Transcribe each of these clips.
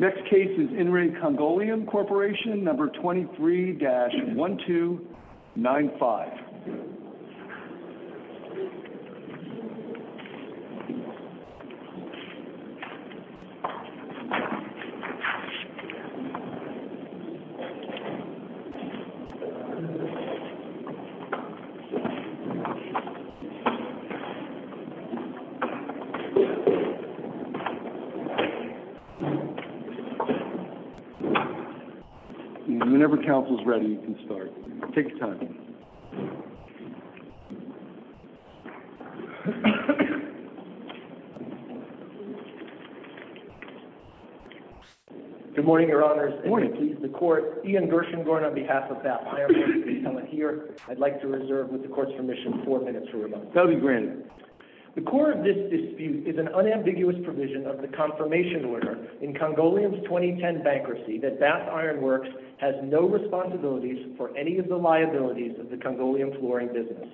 Next case is In Re Congoleum Corporation, number 23-1295. Whenever counsel is ready, you can start. Take your time. Good morning, Your Honors. Ian Gershengorn, on behalf of BAP, I'd like to reserve, with the court's permission, four minutes for rebuttal. That'll be granted. The core of this dispute is an unambiguous provision of the confirmation order in Congoleum's 2010 bankruptcy that BAP Iron Works has no responsibilities for any of the liabilities of the Congoleum flooring business.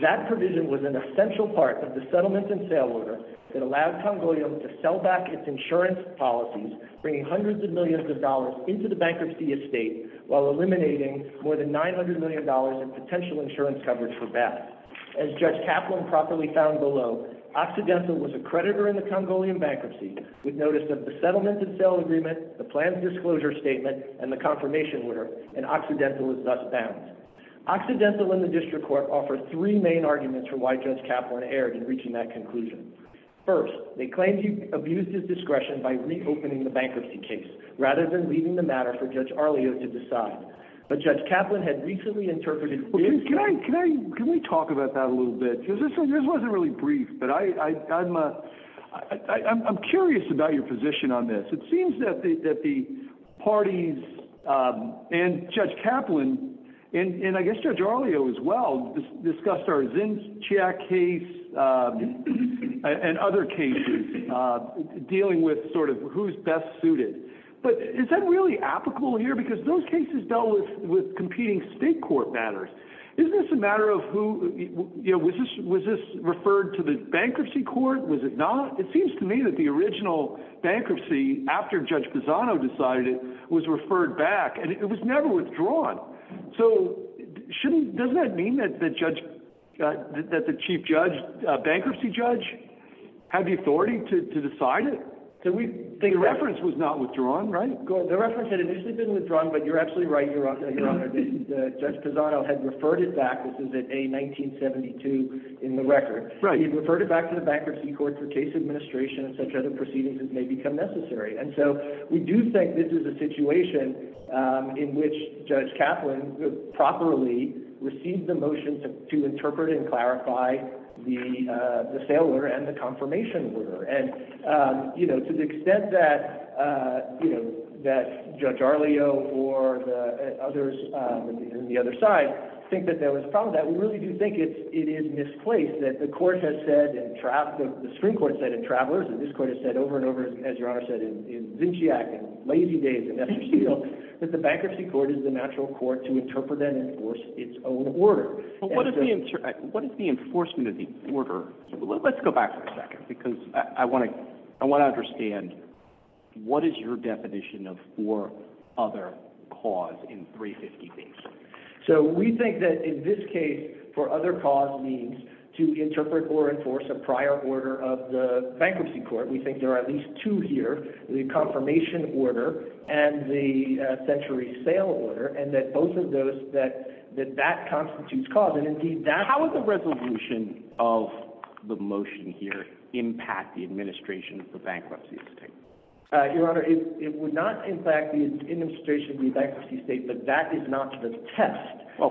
That provision was an essential part of the settlement and sale order that allowed Congoleum to sell back its insurance policies, bringing hundreds of millions of dollars into the bankruptcy estate while eliminating more than $900 million in potential insurance coverage for BAP. As Judge Kaplan properly found below, Occidental was a creditor in the Congoleum bankruptcy, with notice of the settlement and sale agreement, the planned disclosure statement, and the confirmation order, and Occidental was thus found. Occidental and the district court offered three main arguments for why Judge Kaplan erred in reaching that conclusion. First, they claimed he abused his discretion by reopening the bankruptcy case, rather than leaving the matter for Judge Arleo to decide. But Judge Kaplan had recently interpreted his- Can we talk about that a little bit? This wasn't really brief, but I'm curious about your position on this. It seems that the parties and Judge Kaplan, and I guess Judge Arleo as well, discussed our Zinchiak case and other cases, dealing with sort of who's best suited. But is that really applicable here? Because those cases dealt with competing state court matters. Isn't this a matter of who- was this referred to the bankruptcy court? Was it not? It seems to me that the original bankruptcy, after Judge Pisano decided it, was referred back, and it was never withdrawn. So, doesn't that mean that the Chief Bankruptcy Judge had the authority to decide it? The reference was not withdrawn, right? The reference had initially been withdrawn, but you're absolutely right, Your Honor. Judge Pisano had referred it back. This is in A1972 in the record. He referred it back to the bankruptcy court for case administration and such other proceedings as may become necessary. And so, we do think this is a situation in which Judge Kaplan properly received the motion to interpret and clarify the sale order and the confirmation order. And, you know, to the extent that Judge Arleo or the others on the other side think that there was a problem with that, we really do think it is misplaced. We think that the Supreme Court has said in Travelers, and this Court has said over and over, as Your Honor said in Zinchiak and Lazy Days and Esther Steele, that the bankruptcy court is the natural court to interpret and enforce its own order. But what is the enforcement of the order? Let's go back for a second, because I want to understand, what is your definition of for other cause in 350B? So, we think that in this case, for other cause means to interpret or enforce a prior order of the bankruptcy court. We think there are at least two here, the confirmation order and the century sale order, and that both of those, that that constitutes cause. How would the resolution of the motion here impact the administration of the bankruptcy estate? Your Honor, it would not impact the administration of the bankruptcy estate, but that is not the test. Well,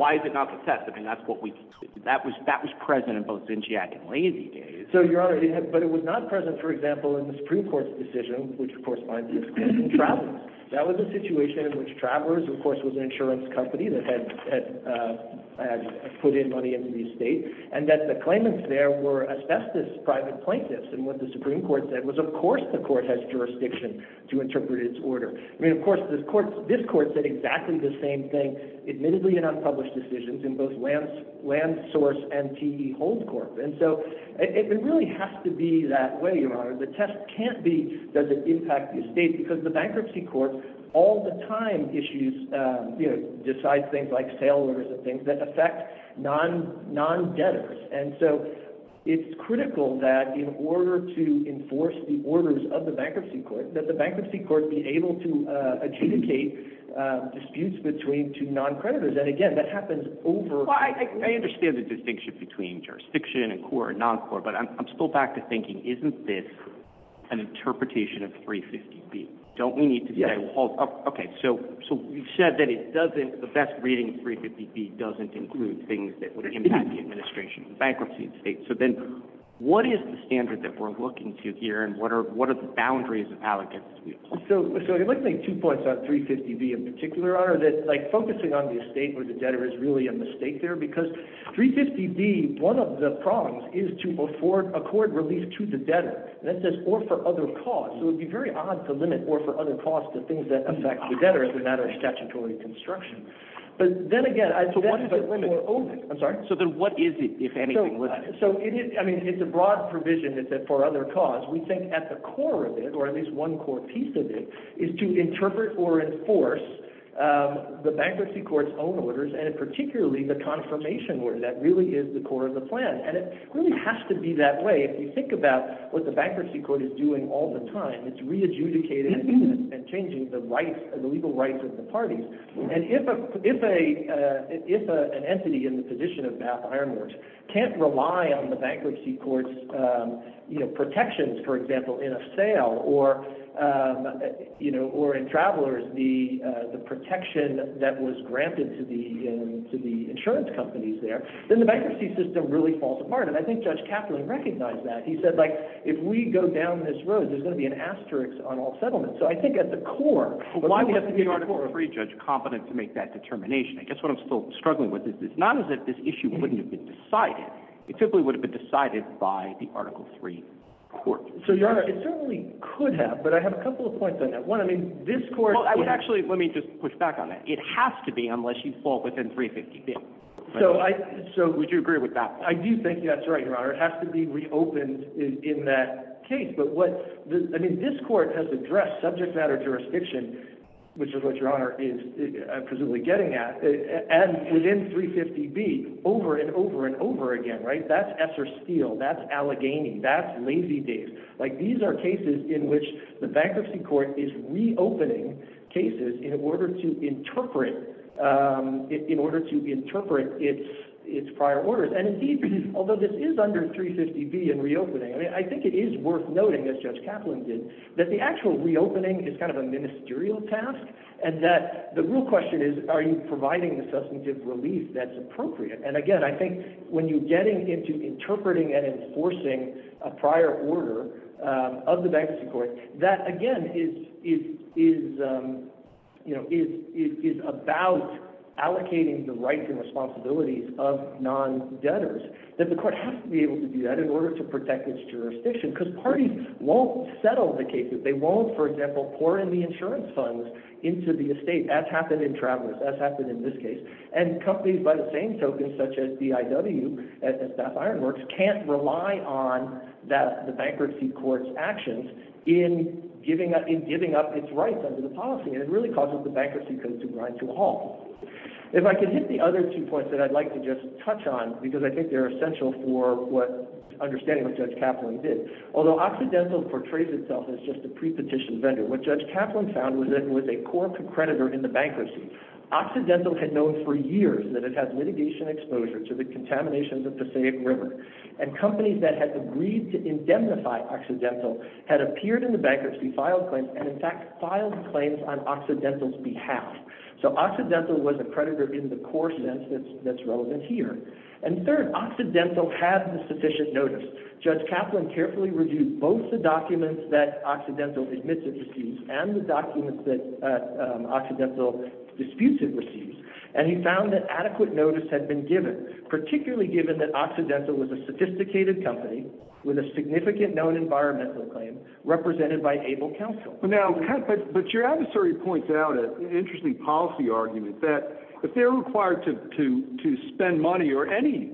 why is it not the test? I mean, that was present in both Zinchiak and Lazy Days. So, Your Honor, but it was not present, for example, in the Supreme Court's decision, which of course binds it to Travelers. That was a situation in which Travelers, of course, was an insurance company that had put in money into the estate, and that the claimants there were asbestos private plaintiffs. And what the Supreme Court said was, of course, the court has jurisdiction to interpret its order. I mean, of course, this court said exactly the same thing, admittedly in unpublished decisions, in both LandSource and TE HoldCorp. And so, it really has to be that way, Your Honor. The test can't be, does it impact the estate? Because the bankruptcy court all the time issues, you know, decides things like sale orders and things that affect non-debtors. And so, it's critical that in order to enforce the orders of the bankruptcy court, that the bankruptcy court be able to adjudicate disputes between two non-creditors. And again, that happens over— Well, I understand the distinction between jurisdiction and core and non-core, but I'm still back to thinking, isn't this an interpretation of 350B? Yes. Okay, so you've said that it doesn't—the best reading of 350B doesn't include things that would impact the administration, the bankruptcy estate. So then, what is the standard that we're looking to here, and what are the boundaries of allegance? So, I'd like to make two points on 350B in particular, Your Honor, that, like, focusing on the estate or the debtor is really a mistake there. Because 350B, one of the prongs is to afford a court release to the debtor. And that says, or for other cause. So, it would be very odd to limit or for other cause to things that affect the debtor as a matter of statutory construction. But then again— So, what is the limit? I'm sorry? So then, what is it, if anything? So, it is—I mean, it's a broad provision that says, for other cause. We think at the core of it, or at least one core piece of it, is to interpret or enforce the bankruptcy court's own orders, and particularly the confirmation order. That really is the core of the plan. And it really has to be that way. If you think about what the bankruptcy court is doing all the time, it's re-adjudicating and changing the rights, the legal rights of the parties. And if an entity in the position of Bath Iron Works can't rely on the bankruptcy court's protections, for example, in a sale, or in Travelers, the protection that was granted to the insurance companies there, then the bankruptcy system really falls apart. And I think Judge Kaplan recognized that. He said, like, if we go down this road, there's going to be an asterisk on all settlements. So I think at the core— But why would the Article III judge be competent to make that determination? I guess what I'm still struggling with is, it's not as if this issue wouldn't have been decided. It simply would have been decided by the Article III court. So, Your Honor, it certainly could have. But I have a couple of points on that. One, I mean, this court— Well, actually, let me just push back on that. It has to be, unless you fall within 350-bit. So, I— So, would you agree with that? I do think that's right, Your Honor. It has to be reopened in that case. But what—I mean, this court has addressed subject matter jurisdiction, which is what Your Honor is presumably getting at, and within 350-B over and over and over again, right? That's Esser Steele. That's Allegheny. That's Lazy Dave. Like, these are cases in which the bankruptcy court is reopening cases in order to interpret its prior orders. And, indeed, although this is under 350-B and reopening, I mean, I think it is worth noting, as Judge Kaplan did, that the actual reopening is kind of a ministerial task, and that the real question is, are you providing the substantive relief that's appropriate? And, again, I think when you're getting into interpreting and enforcing a prior order of the bankruptcy court, that, again, is about allocating the rights and responsibilities of non-debtors, that the court has to be able to do that in order to protect its jurisdiction, because parties won't settle the cases. They won't, for example, pour in the insurance funds into the estate, as happened in Travers, as happened in this case. And companies, by the same token, such as BIW and Staff Ironworks, can't rely on the bankruptcy court's actions in giving up its rights under the policy, and it really causes the bankruptcy court to grind to a halt. If I could hit the other two points that I'd like to just touch on, because I think they're essential for understanding what Judge Kaplan did. Although Occidental portrays itself as just a pre-petition vendor, what Judge Kaplan found was that it was a core concreditor in the bankruptcy. Occidental had known for years that it had litigation exposure to the contaminations of the Passaic River, and companies that had agreed to indemnify Occidental had appeared in the bankruptcy, filed claims, and, in fact, filed claims on Occidental's behalf. So Occidental was a predator in the core sense that's relevant here. And third, Occidental had the sufficient notice. Judge Kaplan carefully reviewed both the documents that Occidental admits it receives and the documents that Occidental disputes it receives, and he found that adequate notice had been given, particularly given that Occidental was a sophisticated company with a significant known environmental claim represented by ABLE counsel. Now, but your adversary points out an interesting policy argument, that if they're required to spend money, or any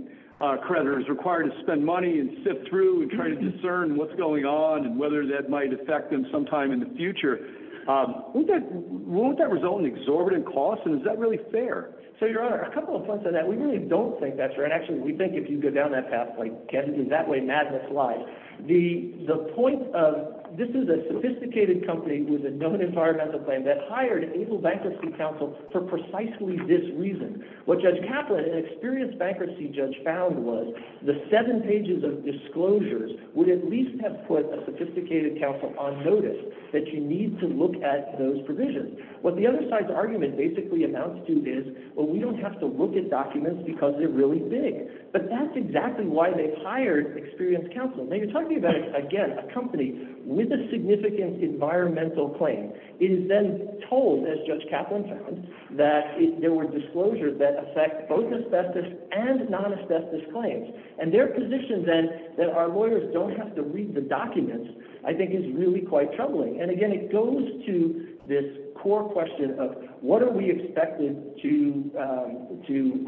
creditor is required to spend money and sift through and try to discern what's going on and whether that might affect them sometime in the future, won't that result in exorbitant costs, and is that really fair? So, Your Honor, a couple of points on that. We really don't think that's right. Actually, we think if you go down that pathway, Kevin, in that way, madness lies. The point of this is a sophisticated company with a known environmental claim that hired ABLE Bankruptcy Counsel for precisely this reason. What Judge Kaplan, an experienced bankruptcy judge, found was the seven pages of disclosures would at least have put a sophisticated counsel on notice that you need to look at those provisions. What the other side's argument basically amounts to is, well, we don't have to look at documents because they're really big. But that's exactly why they've hired experienced counsel. Now, you're talking about, again, a company with a significant environmental claim. It is then told, as Judge Kaplan found, that there were disclosures that affect both asbestos and non-asbestos claims. And their position, then, that our lawyers don't have to read the documents, I think is really quite troubling. And, again, it goes to this core question of what are we expected to –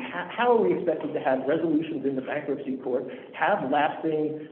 how are we expected to have resolutions in the bankruptcy court, have lasting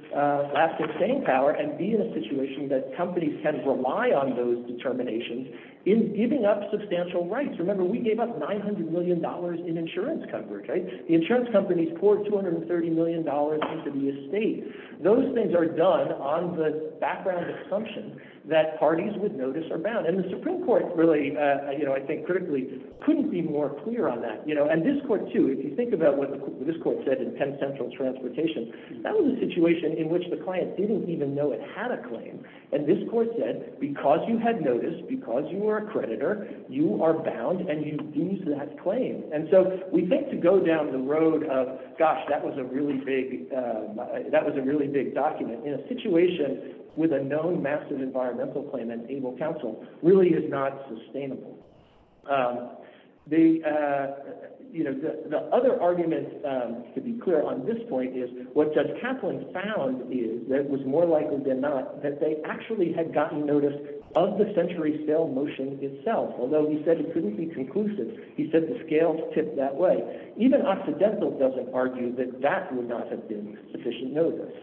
staying power, and be in a situation that companies can rely on those determinations in giving up substantial rights? Remember, we gave up $900 million in insurance coverage. The insurance companies poured $230 million into the estate. Those things are done on the background assumption that parties with notice are bound. And the Supreme Court really, I think critically, couldn't be more clear on that. And this court, too, if you think about what this court said in Penn Central Transportation, that was a situation in which the client didn't even know it had a claim. And this court said, because you had notice, because you were a creditor, you are bound and you've used that claim. And so we think to go down the road of, gosh, that was a really big document in a situation with a known massive environmental claim and able counsel really is not sustainable. The other argument, to be clear on this point, is what Judge Kaplan found is that it was more likely than not that they actually had gotten notice of the century scale motion itself, although he said it couldn't be conclusive. He said the scales tipped that way. Even Occidental doesn't argue that that would not have been sufficient notice.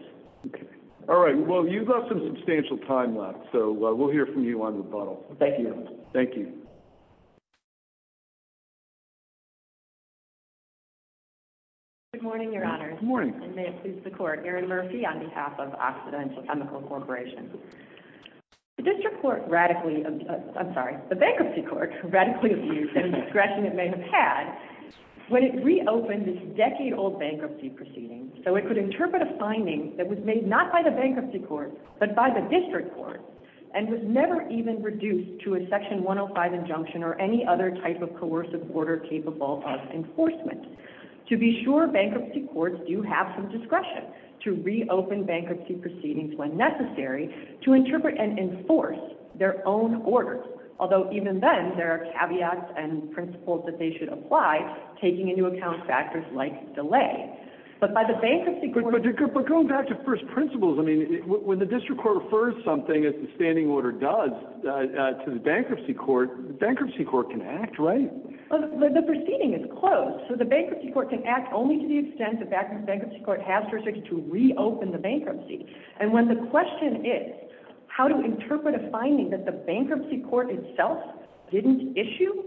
All right. Well, you've got some substantial time left, so we'll hear from you on rebuttal. Thank you. Thank you. Good morning, Your Honors. Good morning. And may it please the Court. Erin Murphy on behalf of Occidental Chemical Corporation. The district court radically – I'm sorry, the bankruptcy court radically abused any discretion it may have had when it reopened this decade-old bankruptcy proceeding so it could interpret a finding that was made not by the bankruptcy court but by the district court and was never even reduced to a section 105 injunction or any other type of coercive order capable of enforcement. To be sure, bankruptcy courts do have some discretion to reopen bankruptcy proceedings when necessary to interpret and enforce their own orders, although even then there are caveats and principles that they should apply, taking into account factors like delay. But by the bankruptcy court – But going back to first principles, I mean, when the district court refers something, as the standing order does, to the bankruptcy court, the bankruptcy court can act, right? The proceeding is closed, so the bankruptcy court can act only to the extent the bankruptcy court has jurisdiction to reopen the bankruptcy. And when the question is how to interpret a finding that the bankruptcy court itself didn't issue,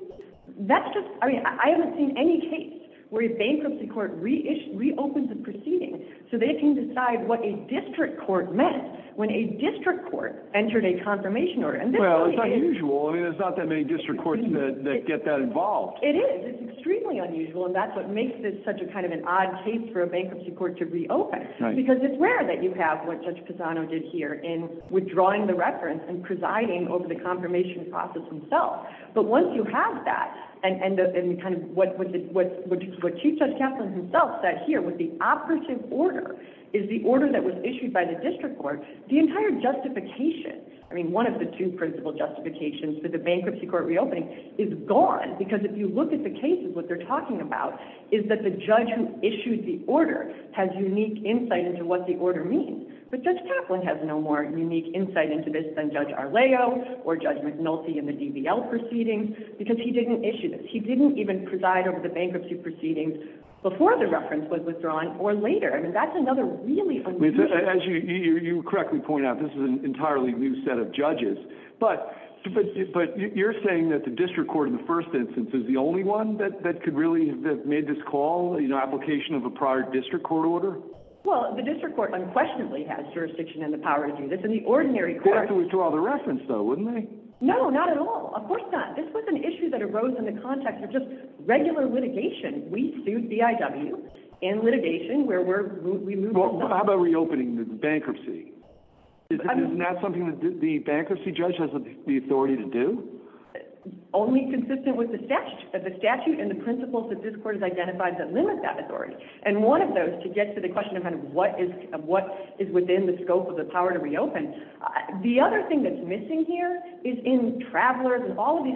that's just – I mean, I haven't seen any case where a bankruptcy court reopens a proceeding so they can decide what a district court permits when a district court entered a confirmation order. Well, it's unusual. I mean, there's not that many district courts that get that involved. It is. It's extremely unusual, and that's what makes this such a kind of an odd case for a bankruptcy court to reopen because it's rare that you have what Judge Pisano did here in withdrawing the reference and presiding over the confirmation process himself. But once you have that and kind of what Chief Judge Kaplan himself said here with the operative order is the order that was issued by the district court, the entire justification – I mean, one of the two principal justifications for the bankruptcy court reopening is gone because if you look at the cases, what they're talking about is that the judge who issued the order has unique insight into what the order means. But Judge Kaplan has no more unique insight into this than Judge Arleo or Judge McNulty in the DBL proceedings because he didn't issue this. He didn't even preside over the bankruptcy proceedings before the reference was withdrawn or later. I mean, that's another really unusual – As you correctly point out, this is an entirely new set of judges. But you're saying that the district court in the first instance is the only one that could really have made this call, the application of a prior district court order? Well, the district court unquestionably has jurisdiction and the power to do this. In the ordinary court – They'd have to withdraw the reference, though, wouldn't they? No, not at all. Of course not. This was an issue that arose in the context of just regular litigation. We sued BIW in litigation where we're – How about reopening the bankruptcy? Isn't that something that the bankruptcy judge has the authority to do? Only consistent with the statute and the principles that this court has identified that limit that authority. And one of those, to get to the question of what is within the scope of the power to reopen, the other thing that's missing here is in travelers and all of this,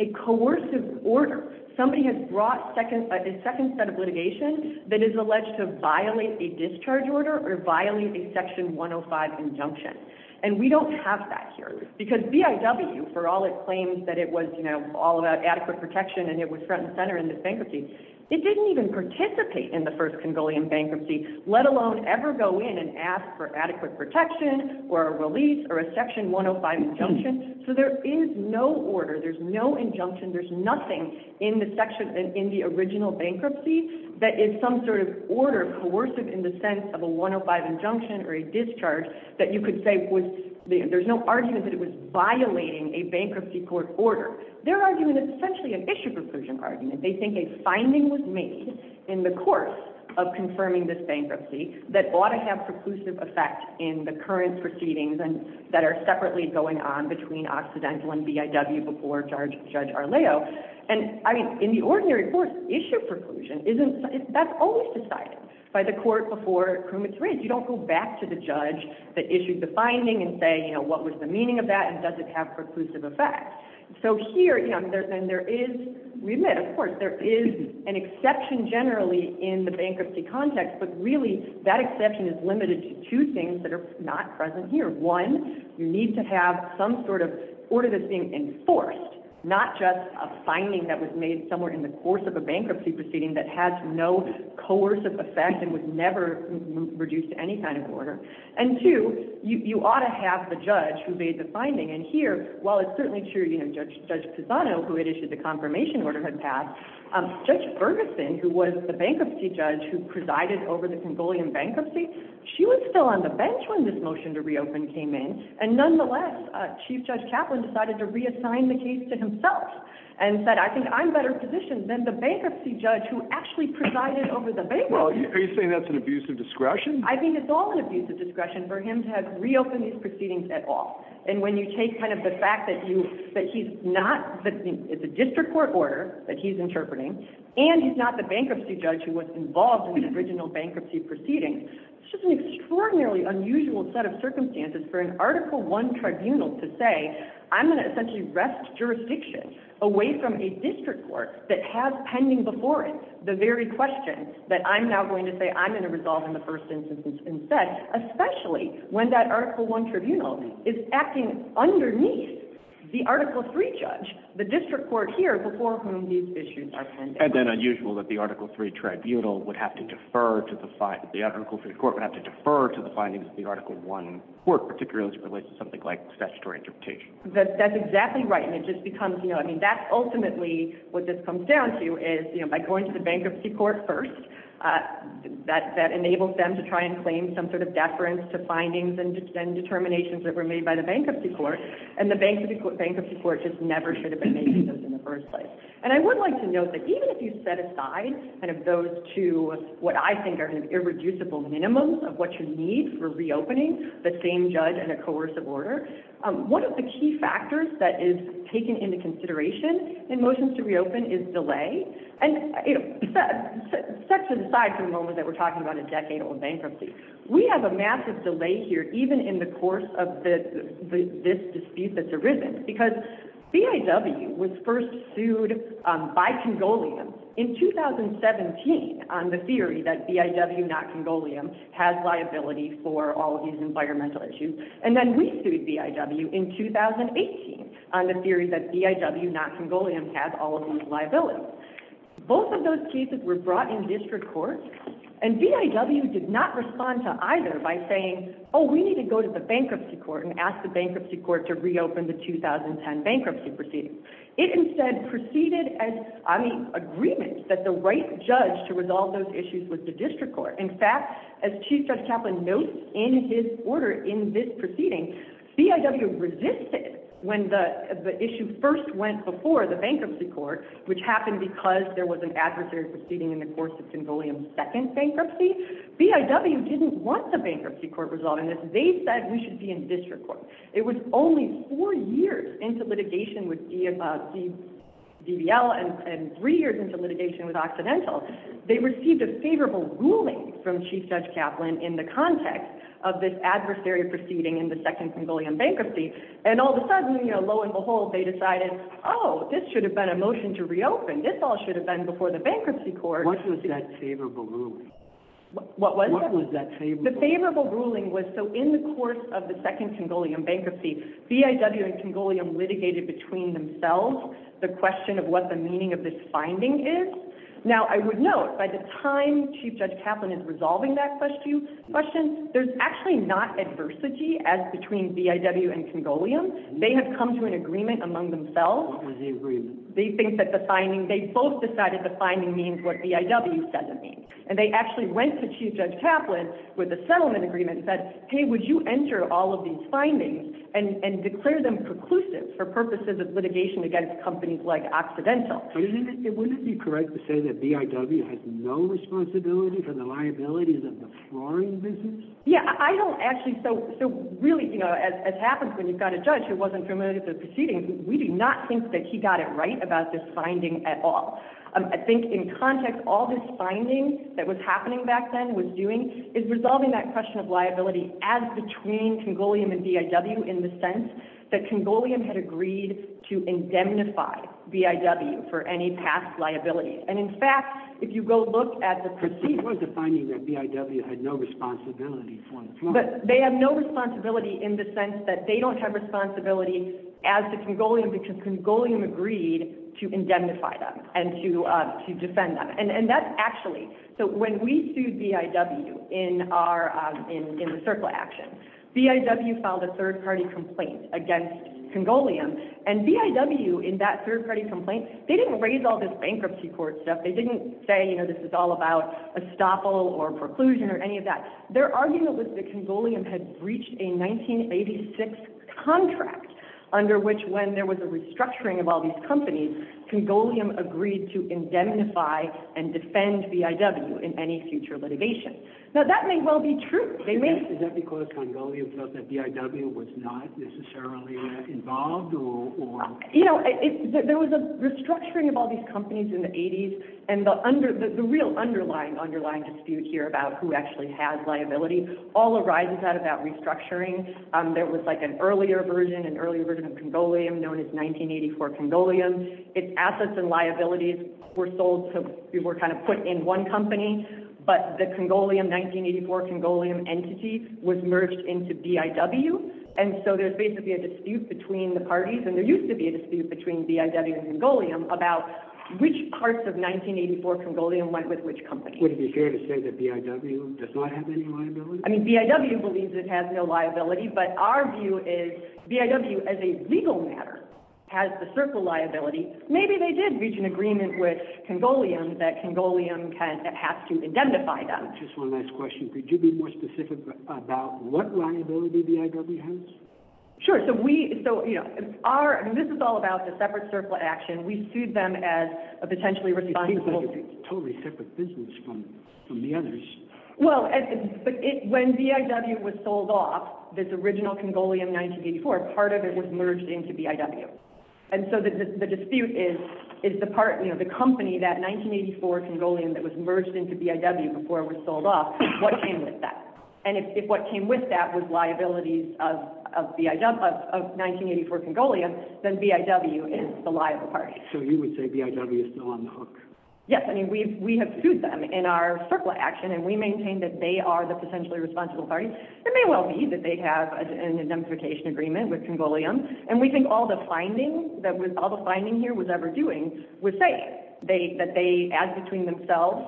the coercive order. Somebody has brought a second set of litigation that is alleged to violate a discharge order or violate a section 105 injunction. And we don't have that here. Because BIW, for all its claims that it was all about adequate protection and it was front and center in this bankruptcy, it didn't even participate in the first Congolian bankruptcy, let alone ever go in and ask for adequate protection or a release or a section 105 injunction. So there is no order. There's no injunction. There's nothing in the section in the original bankruptcy that is some sort of order coercive in the sense of a 105 injunction or a discharge that you could say was – there's no argument that it was violating a bankruptcy court order. They're arguing essentially an issue preclusion argument. They think a finding was made in the course of confirming this bankruptcy that ought to have preclusive effect in the current proceedings and that are And, I mean, in the ordinary course, issue preclusion isn't – that's always decided by the court before it's raised. You don't go back to the judge that issued the finding and say, you know, what was the meaning of that and does it have preclusive effect. So here, you know, and there is – we admit, of course, there is an exception generally in the bankruptcy context, but really that exception is limited to two things that are not present here. One, you need to have some sort of order that's being enforced, not just a finding that was made somewhere in the course of a bankruptcy proceeding that has no coercive effect and was never reduced to any kind of order. And two, you ought to have the judge who made the finding. And here, while it's certainly true, you know, Judge Pisano, who had issued the confirmation order, had passed, Judge Ferguson, who was the bankruptcy judge who presided over the Congolian bankruptcy, she was still on the bench when this motion to reopen came in. And nonetheless, Chief Judge Kaplan decided to reassign the case to himself and said, I think I'm better positioned than the bankruptcy judge who actually presided over the bankruptcy. Are you saying that's an abuse of discretion? I think it's all an abuse of discretion for him to have reopened these proceedings at all. And when you take kind of the fact that he's not – it's a district court order that he's interpreting and he's not the bankruptcy judge who was involved in the original bankruptcy proceedings, it's just an extraordinarily unusual set of circumstances for an Article I tribunal to say, I'm going to essentially wrest jurisdiction away from a district court that has pending before it the very question that I'm now going to say I'm going to resolve in the first instance instead, especially when that Article I tribunal is acting underneath the Article III judge, the district court here before whom these issues are pending. And then unusual that the Article III tribunal would have to defer to the findings of the Article I court, particularly as it relates to something like statutory interpretation. That's exactly right. And it just becomes – I mean, that's ultimately what this comes down to is by going to the bankruptcy court first, that enables them to try and claim some sort of deference to findings and determinations that were made by the bankruptcy court. And the bankruptcy court just never should have been making those in the first place. And I would like to note that even if you set aside kind of those two what I think are irreducible minimums of what you need for reopening the same judge and a coercive order, one of the key factors that is taken into consideration in motions to reopen is delay. And set to the side for the moment that we're talking about a decade-old bankruptcy, we have a massive delay here even in the course of this dispute that's arisen. Because BIW was first sued by Congolians in 2017 on the theory that BIW, not Congolians, has liability for all of these environmental issues. And then we sued BIW in 2018 on the theory that BIW, not Congolians, has all of these liabilities. Both of those cases were brought in district court, and BIW did not respond to either by saying, oh, we need to go to the bankruptcy court and ask the Congress to reopen the 2010 bankruptcy proceeding. It instead proceeded as an agreement that the right judge to resolve those issues was the district court. In fact, as Chief Judge Kaplan notes in his order in this proceeding, BIW resisted when the issue first went before the bankruptcy court, which happened because there was an adversary proceeding in the course of Congolians' second bankruptcy. BIW didn't want the bankruptcy court resolving this. They said we should be in district court. It was only four years into litigation with DBL and three years into litigation with Occidental. They received a favorable ruling from Chief Judge Kaplan in the context of this adversary proceeding in the second Congolian bankruptcy, and all of a sudden, lo and behold, they decided, oh, this should have been a motion to reopen. This all should have been before the bankruptcy court. What was that? What was that favorable ruling? The favorable ruling was so in the course of the second Congolian bankruptcy, BIW and Congolian litigated between themselves the question of what the meaning of this finding is. Now, I would note, by the time Chief Judge Kaplan is resolving that question, there's actually not adversity as between BIW and Congolian. They have come to an agreement among themselves. What was the agreement? They think that the finding, they both decided the finding means what BIW says it means. They actually went to Chief Judge Kaplan with a settlement agreement and said, hey, would you enter all of these findings and declare them preclusives for purposes of litigation against companies like Occidental? Wouldn't it be correct to say that BIW has no responsibility for the liabilities of the flooring business? Yeah, I don't actually. Really, as happens when you've got a judge who wasn't familiar with the proceedings, we do not think that he got it right about this finding at all. I think in context, all this finding that was happening back then, was doing, is resolving that question of liability as between Congolian and BIW in the sense that Congolian had agreed to indemnify BIW for any past liability. And, in fact, if you go look at the proceedings. It was a finding that BIW had no responsibility for the flooring. But they have no responsibility in the sense that they don't have responsibility as the Congolian because Congolian agreed to indemnify them. And to defend them. And that's actually, so when we sued BIW in the circle action, BIW filed a third-party complaint against Congolian. And BIW, in that third-party complaint, they didn't raise all this bankruptcy court stuff. They didn't say this is all about estoppel or preclusion or any of that. Their argument was that Congolian had breached a 1986 contract, under which when there was a restructuring of all these companies, Congolian agreed to indemnify and defend BIW in any future litigation. Now, that may well be true. Is that because Congolian felt that BIW was not necessarily involved or? You know, there was a restructuring of all these companies in the 80s. And the real underlying dispute here about who actually has liability all arises out of that restructuring. There was like an earlier version, known as 1984 Congolian. Its assets and liabilities were sold to, were kind of put in one company. But the Congolian, 1984 Congolian entity, was merged into BIW. And so there's basically a dispute between the parties, and there used to be a dispute between BIW and Congolian, about which parts of 1984 Congolian went with which company. Would it be fair to say that BIW does not have any liability? I mean, BIW believes it has no liability. But our view is BIW, as a legal matter, has the circle liability. Maybe they did reach an agreement with Congolian that Congolian has to indemnify them. Just one last question. Could you be more specific about what liability BIW has? Sure. So, you know, this is all about the separate circle action. We sued them as a potentially responsible. It seems like a totally separate business from the others. Well, when BIW was sold off, this original Congolian 1984, part of it was merged into BIW. And so the dispute is the part, you know, the company, that 1984 Congolian that was merged into BIW before it was sold off, what came with that? And if what came with that was liabilities of 1984 Congolian, then BIW is the liable party. So you would say BIW is still on the hook? Yes. I mean, we have sued them in our circle action, and we maintain that they are the potentially responsible party. It may well be that they have an indemnification agreement with Congolian, and we think all the finding here was ever doing was say that they, as between themselves,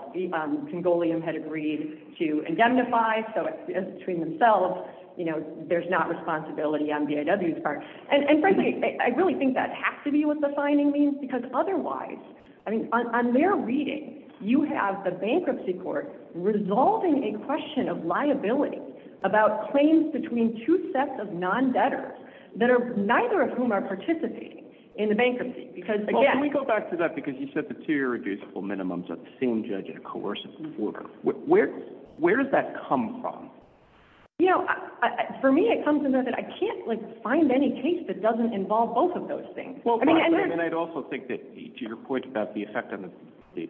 Congolian had agreed to indemnify, so as between themselves, you know, there's not responsibility on BIW's part. And, frankly, I really think that has to be what the finding means, because otherwise, I mean, on their reading, you have the bankruptcy court resolving a question of liability about claims between two sets of non-debtors, neither of whom are participating in the bankruptcy. Well, can we go back to that? Because you said the two irreducible minimums are the same judge in a coercive order. Where does that come from? You know, for me it comes in that I can't, like, find any case that doesn't involve both of those things. And I'd also think that to your point about the effect on the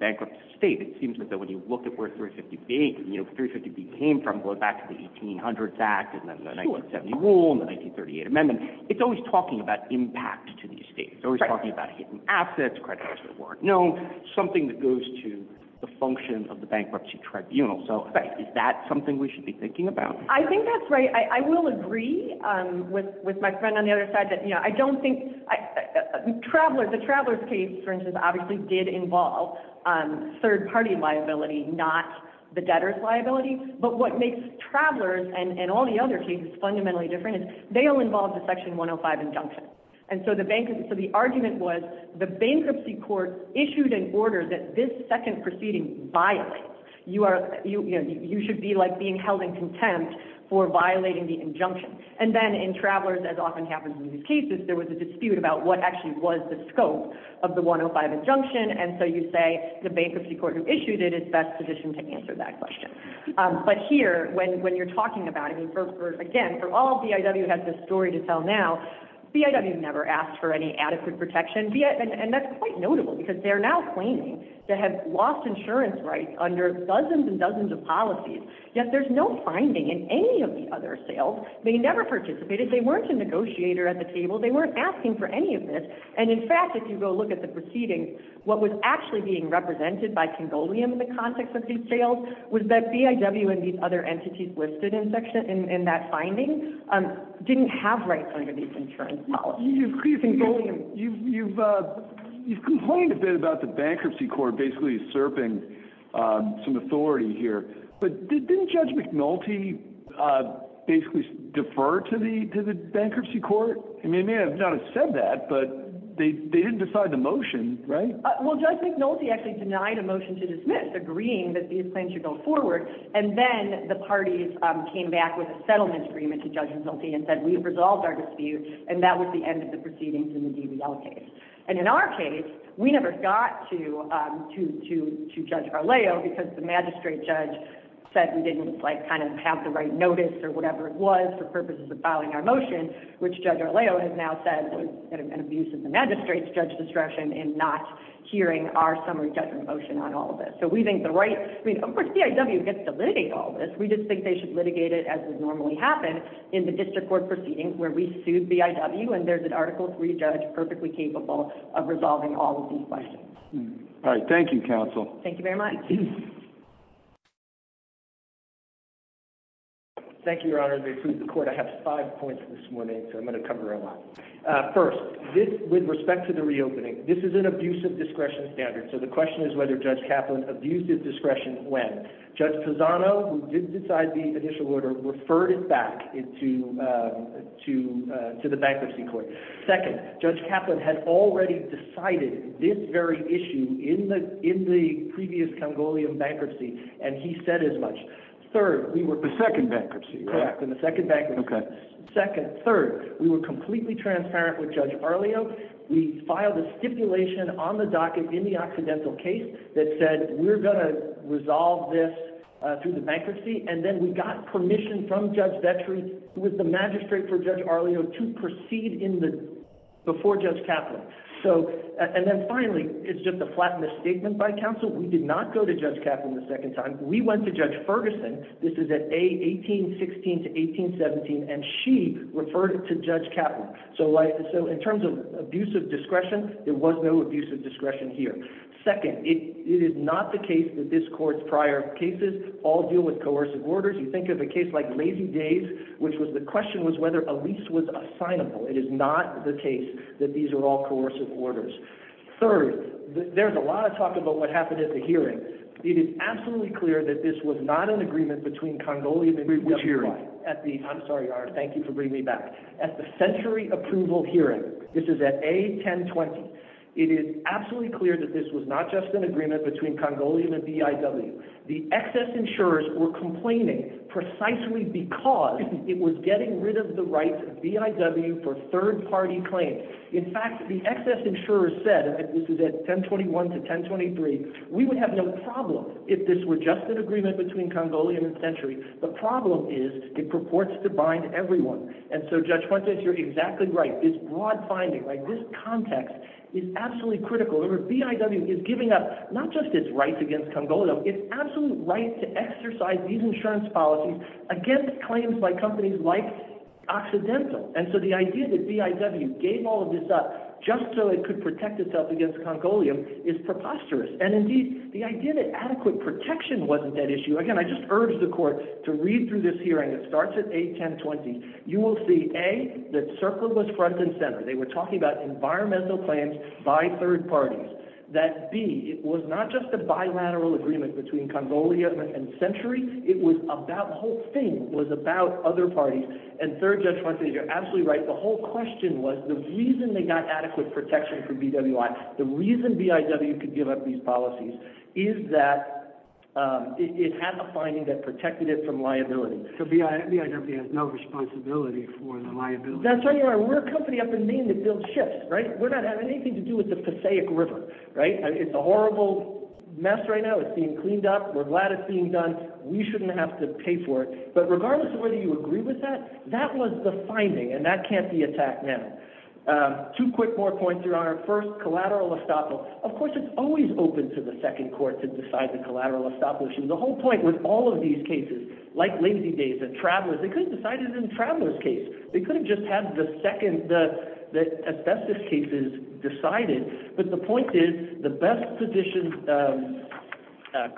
bankruptcy state, it seems that when you look at where 350B came from, going back to the 1800s Act and then the 1970 rule and the 1938 amendment, it's always talking about impact to these states. It's always talking about hidden assets, creditors that weren't known, something that goes to the function of the bankruptcy tribunal. So is that something we should be thinking about? I think that's right. I will agree with my friend on the other side that, you know, I don't think the Travelers case, for instance, obviously did involve third-party liability, not the debtors' liability. But what makes Travelers and all the other cases fundamentally different is they all involve the Section 105 injunction. And so the argument was the bankruptcy court issued an order that this second proceeding violates. You should be, like, being held in contempt for violating the injunction. And then in Travelers, as often happens in these cases, there was a dispute about what actually was the scope of the 105 injunction. And so you say the bankruptcy court who issued it is best positioned to answer that question. But here, when you're talking about it, again, for all BIW has this story to tell now, BIW never asked for any adequate protection. And that's quite notable because they're now claiming to have lost insurance rights under dozens and dozens of policies, yet there's no finding in any of the other sales. They never participated. They weren't a negotiator at the table. They weren't asking for any of this. And, in fact, if you go look at the proceedings, what was actually being represented by Congolium in the context of these sales was that BIW and these other entities listed in that finding didn't have rights under these insurance policies. Congolium. You've complained a bit about the bankruptcy court basically usurping some authority here. But didn't Judge McNulty basically defer to the bankruptcy court? I mean, they may not have said that, but they didn't decide the motion, right? Well, Judge McNulty actually denied a motion to dismiss, agreeing that these plans should go forward. And then the parties came back with a settlement agreement to Judge McNulty and said, we have resolved our dispute, and that was the end of the proceedings in the DBL case. And in our case, we never got to Judge Arleo because the magistrate judge said we didn't have the right notice or whatever it was for purposes of filing our motion, which Judge Arleo has now said was an abuse of the magistrate's judge discretion in not hearing our summary judgment motion on all of this. So we think the right, I mean, of course, BIW gets to litigate all this. We just think they should litigate it as would normally happen in the district court proceedings where we sued BIW and there's an Article III judge perfectly capable of resolving all of these questions. All right. Thank you, counsel. Thank you very much. Thank you, Your Honor. I have five points this morning, so I'm going to cover a lot. First, with respect to the reopening, this is an abuse of discretion standard. So the question is whether Judge Kaplan abused his discretion when? Judge Pisano, who didn't decide the initial order, referred it back to the bankruptcy court. Second, Judge Kaplan had already decided this very issue in the previous Congolian bankruptcy, and he said as much. Third, we were. The second bankruptcy. Correct. In the second bankruptcy. Second. Third, we were completely transparent with Judge Arleo. We filed a stipulation on the docket in the accidental case that said we're going to resolve this through the bankruptcy, and then we got permission from Judge Vetri, who was the magistrate for Judge Arleo, to proceed before Judge Kaplan. And then finally, it's just a flat misstatement by counsel. We did not go to Judge Kaplan the second time. We went to Judge Ferguson. This is at A, 1816 to 1817, and she referred it to Judge Kaplan. So in terms of abuse of discretion, there was no abuse of discretion here. Second, it is not the case that this court's prior cases all deal with coercive orders. You think of a case like Lazy Days, which was the question was whether a lease was assignable. It is not the case that these are all coercive orders. Third, there's a lot of talk about what happened at the hearing. It is absolutely clear that this was not an agreement between Congolian and V.I.W. I'm sorry, Ar, thank you for bringing me back. At the century approval hearing, this is at A, 1020, it is absolutely clear that this was not just an agreement between Congolian and V.I.W. The excess insurers were complaining precisely because it was getting rid of the rights of V.I.W. for third-party claims. In fact, the excess insurers said, this is at 1021 to 1023, we would have no problem if this were just an agreement between Congolian and Century. The problem is it purports to bind everyone. And so Judge Fuentes, you're exactly right. This broad finding, this context is absolutely critical. Remember, V.I.W. is giving up not just its rights against Congolian, it's absolute right to exercise these insurance policies against claims by companies like Occidental. And so the idea that V.I.W. gave all of this up just so it could protect itself against Congolian is preposterous. And indeed, the idea that adequate protection wasn't that issue, again, I just urge the court to read through this hearing. It starts at A, 1020. You will see, A, that CERCLA was front and center. They were talking about environmental claims by third parties. That, B, it was not just a bilateral agreement between Congolian and Century, it was about, the whole thing was about other parties. And third, Judge Fuentes, you're absolutely right. The whole question was the reason they got adequate protection from V.W.I., the reason V.I.W. could give up these policies, is that it had the finding that protected it from liability. So V.I.W. has no responsibility for the liability. That's right. We're a company up in Maine that builds ships, right? We're not having anything to do with the Passaic River, right? It's a horrible mess right now. It's being cleaned up. We're glad it's being done. We shouldn't have to pay for it. But regardless of whether you agree with that, that was the finding, and that can't be attacked now. Two quick more points, Your Honor. First, collateral estoppel. Of course, it's always open to the second court to decide the collateral estoppel issue. The whole point with all of these cases, like Lazy Days and Travelers, they could have decided it in Travelers' case. They could have just had the second, the asbestos cases decided. But the point is, the best position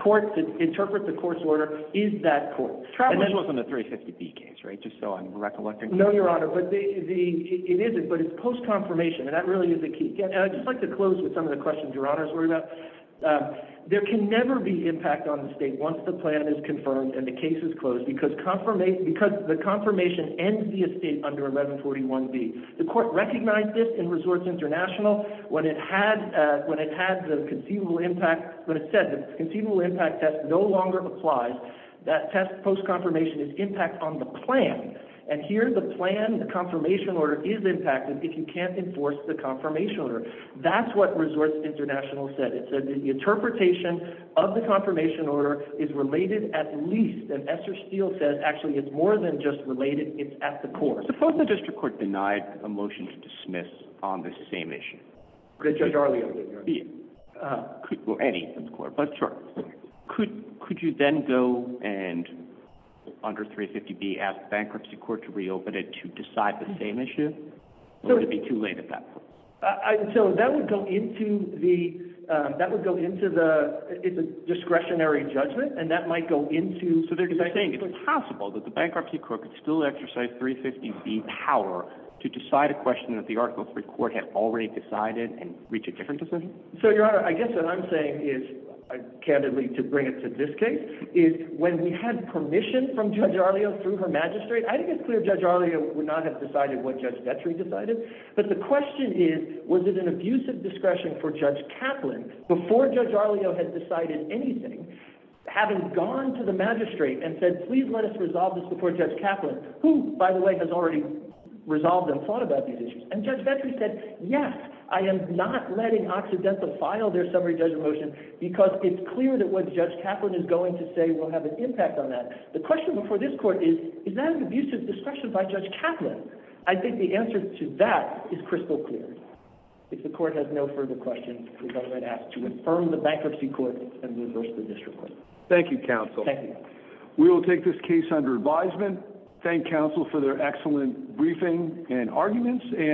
court to interpret the court's order is that court. Travelers wasn't a 350B case, right? Just so I'm recollecting. No, Your Honor. It isn't, but it's post-confirmation, and that really is the key. And I'd just like to close with some of the questions Your Honor's worried about. There can never be impact on the state once the plan is confirmed and the case is closed because the confirmation ends the estate under 1141B. The court recognized this in Resorts International when it had the conceivable impact, when it said the conceivable impact test no longer applies. That test post-confirmation is impact on the plan. And here the plan, the confirmation order is impacted if you can't enforce the confirmation order. That's what Resorts International said. It said the interpretation of the confirmation order is related at least, and Esther Steele says actually it's more than just related, it's at the court. Suppose the district court denied a motion to dismiss on this same issue? Judge Arleo. Any court, but sure. Could you then go and under 350B ask the bankruptcy court to reopen it to decide the same issue? Or would it be too late at that point? So that would go into the, it's a discretionary judgment, and that might go into. So they're saying it's possible that the bankruptcy court could still exercise 350B power to decide a question that the Article III court has already decided and reach a different decision? So, Your Honor, I guess what I'm saying is, candidly to bring it to this case, is when we had permission from Judge Arleo through her magistrate, I think it's clear Judge Arleo would not have decided what Judge Vetri decided. But the question is, was it an abusive discretion for Judge Kaplan before Judge Arleo had decided anything, having gone to the magistrate and said, please let us resolve this before Judge Kaplan, who by the way has already resolved and thought about these issues. And Judge Vetri said, yes, I am not letting Occidental file their summary judgment motion, because it's clear that what Judge Kaplan is going to say will have an impact on that. The question before this court is, is that an abusive discretion by Judge Kaplan? I think the answer to that is crystal clear. If the court has no further questions, we're going to ask to confirm the bankruptcy court and reverse the district court. Thank you, counsel. Thank you. We will take this case under advisement. Thank counsel for their excellent briefing and arguments.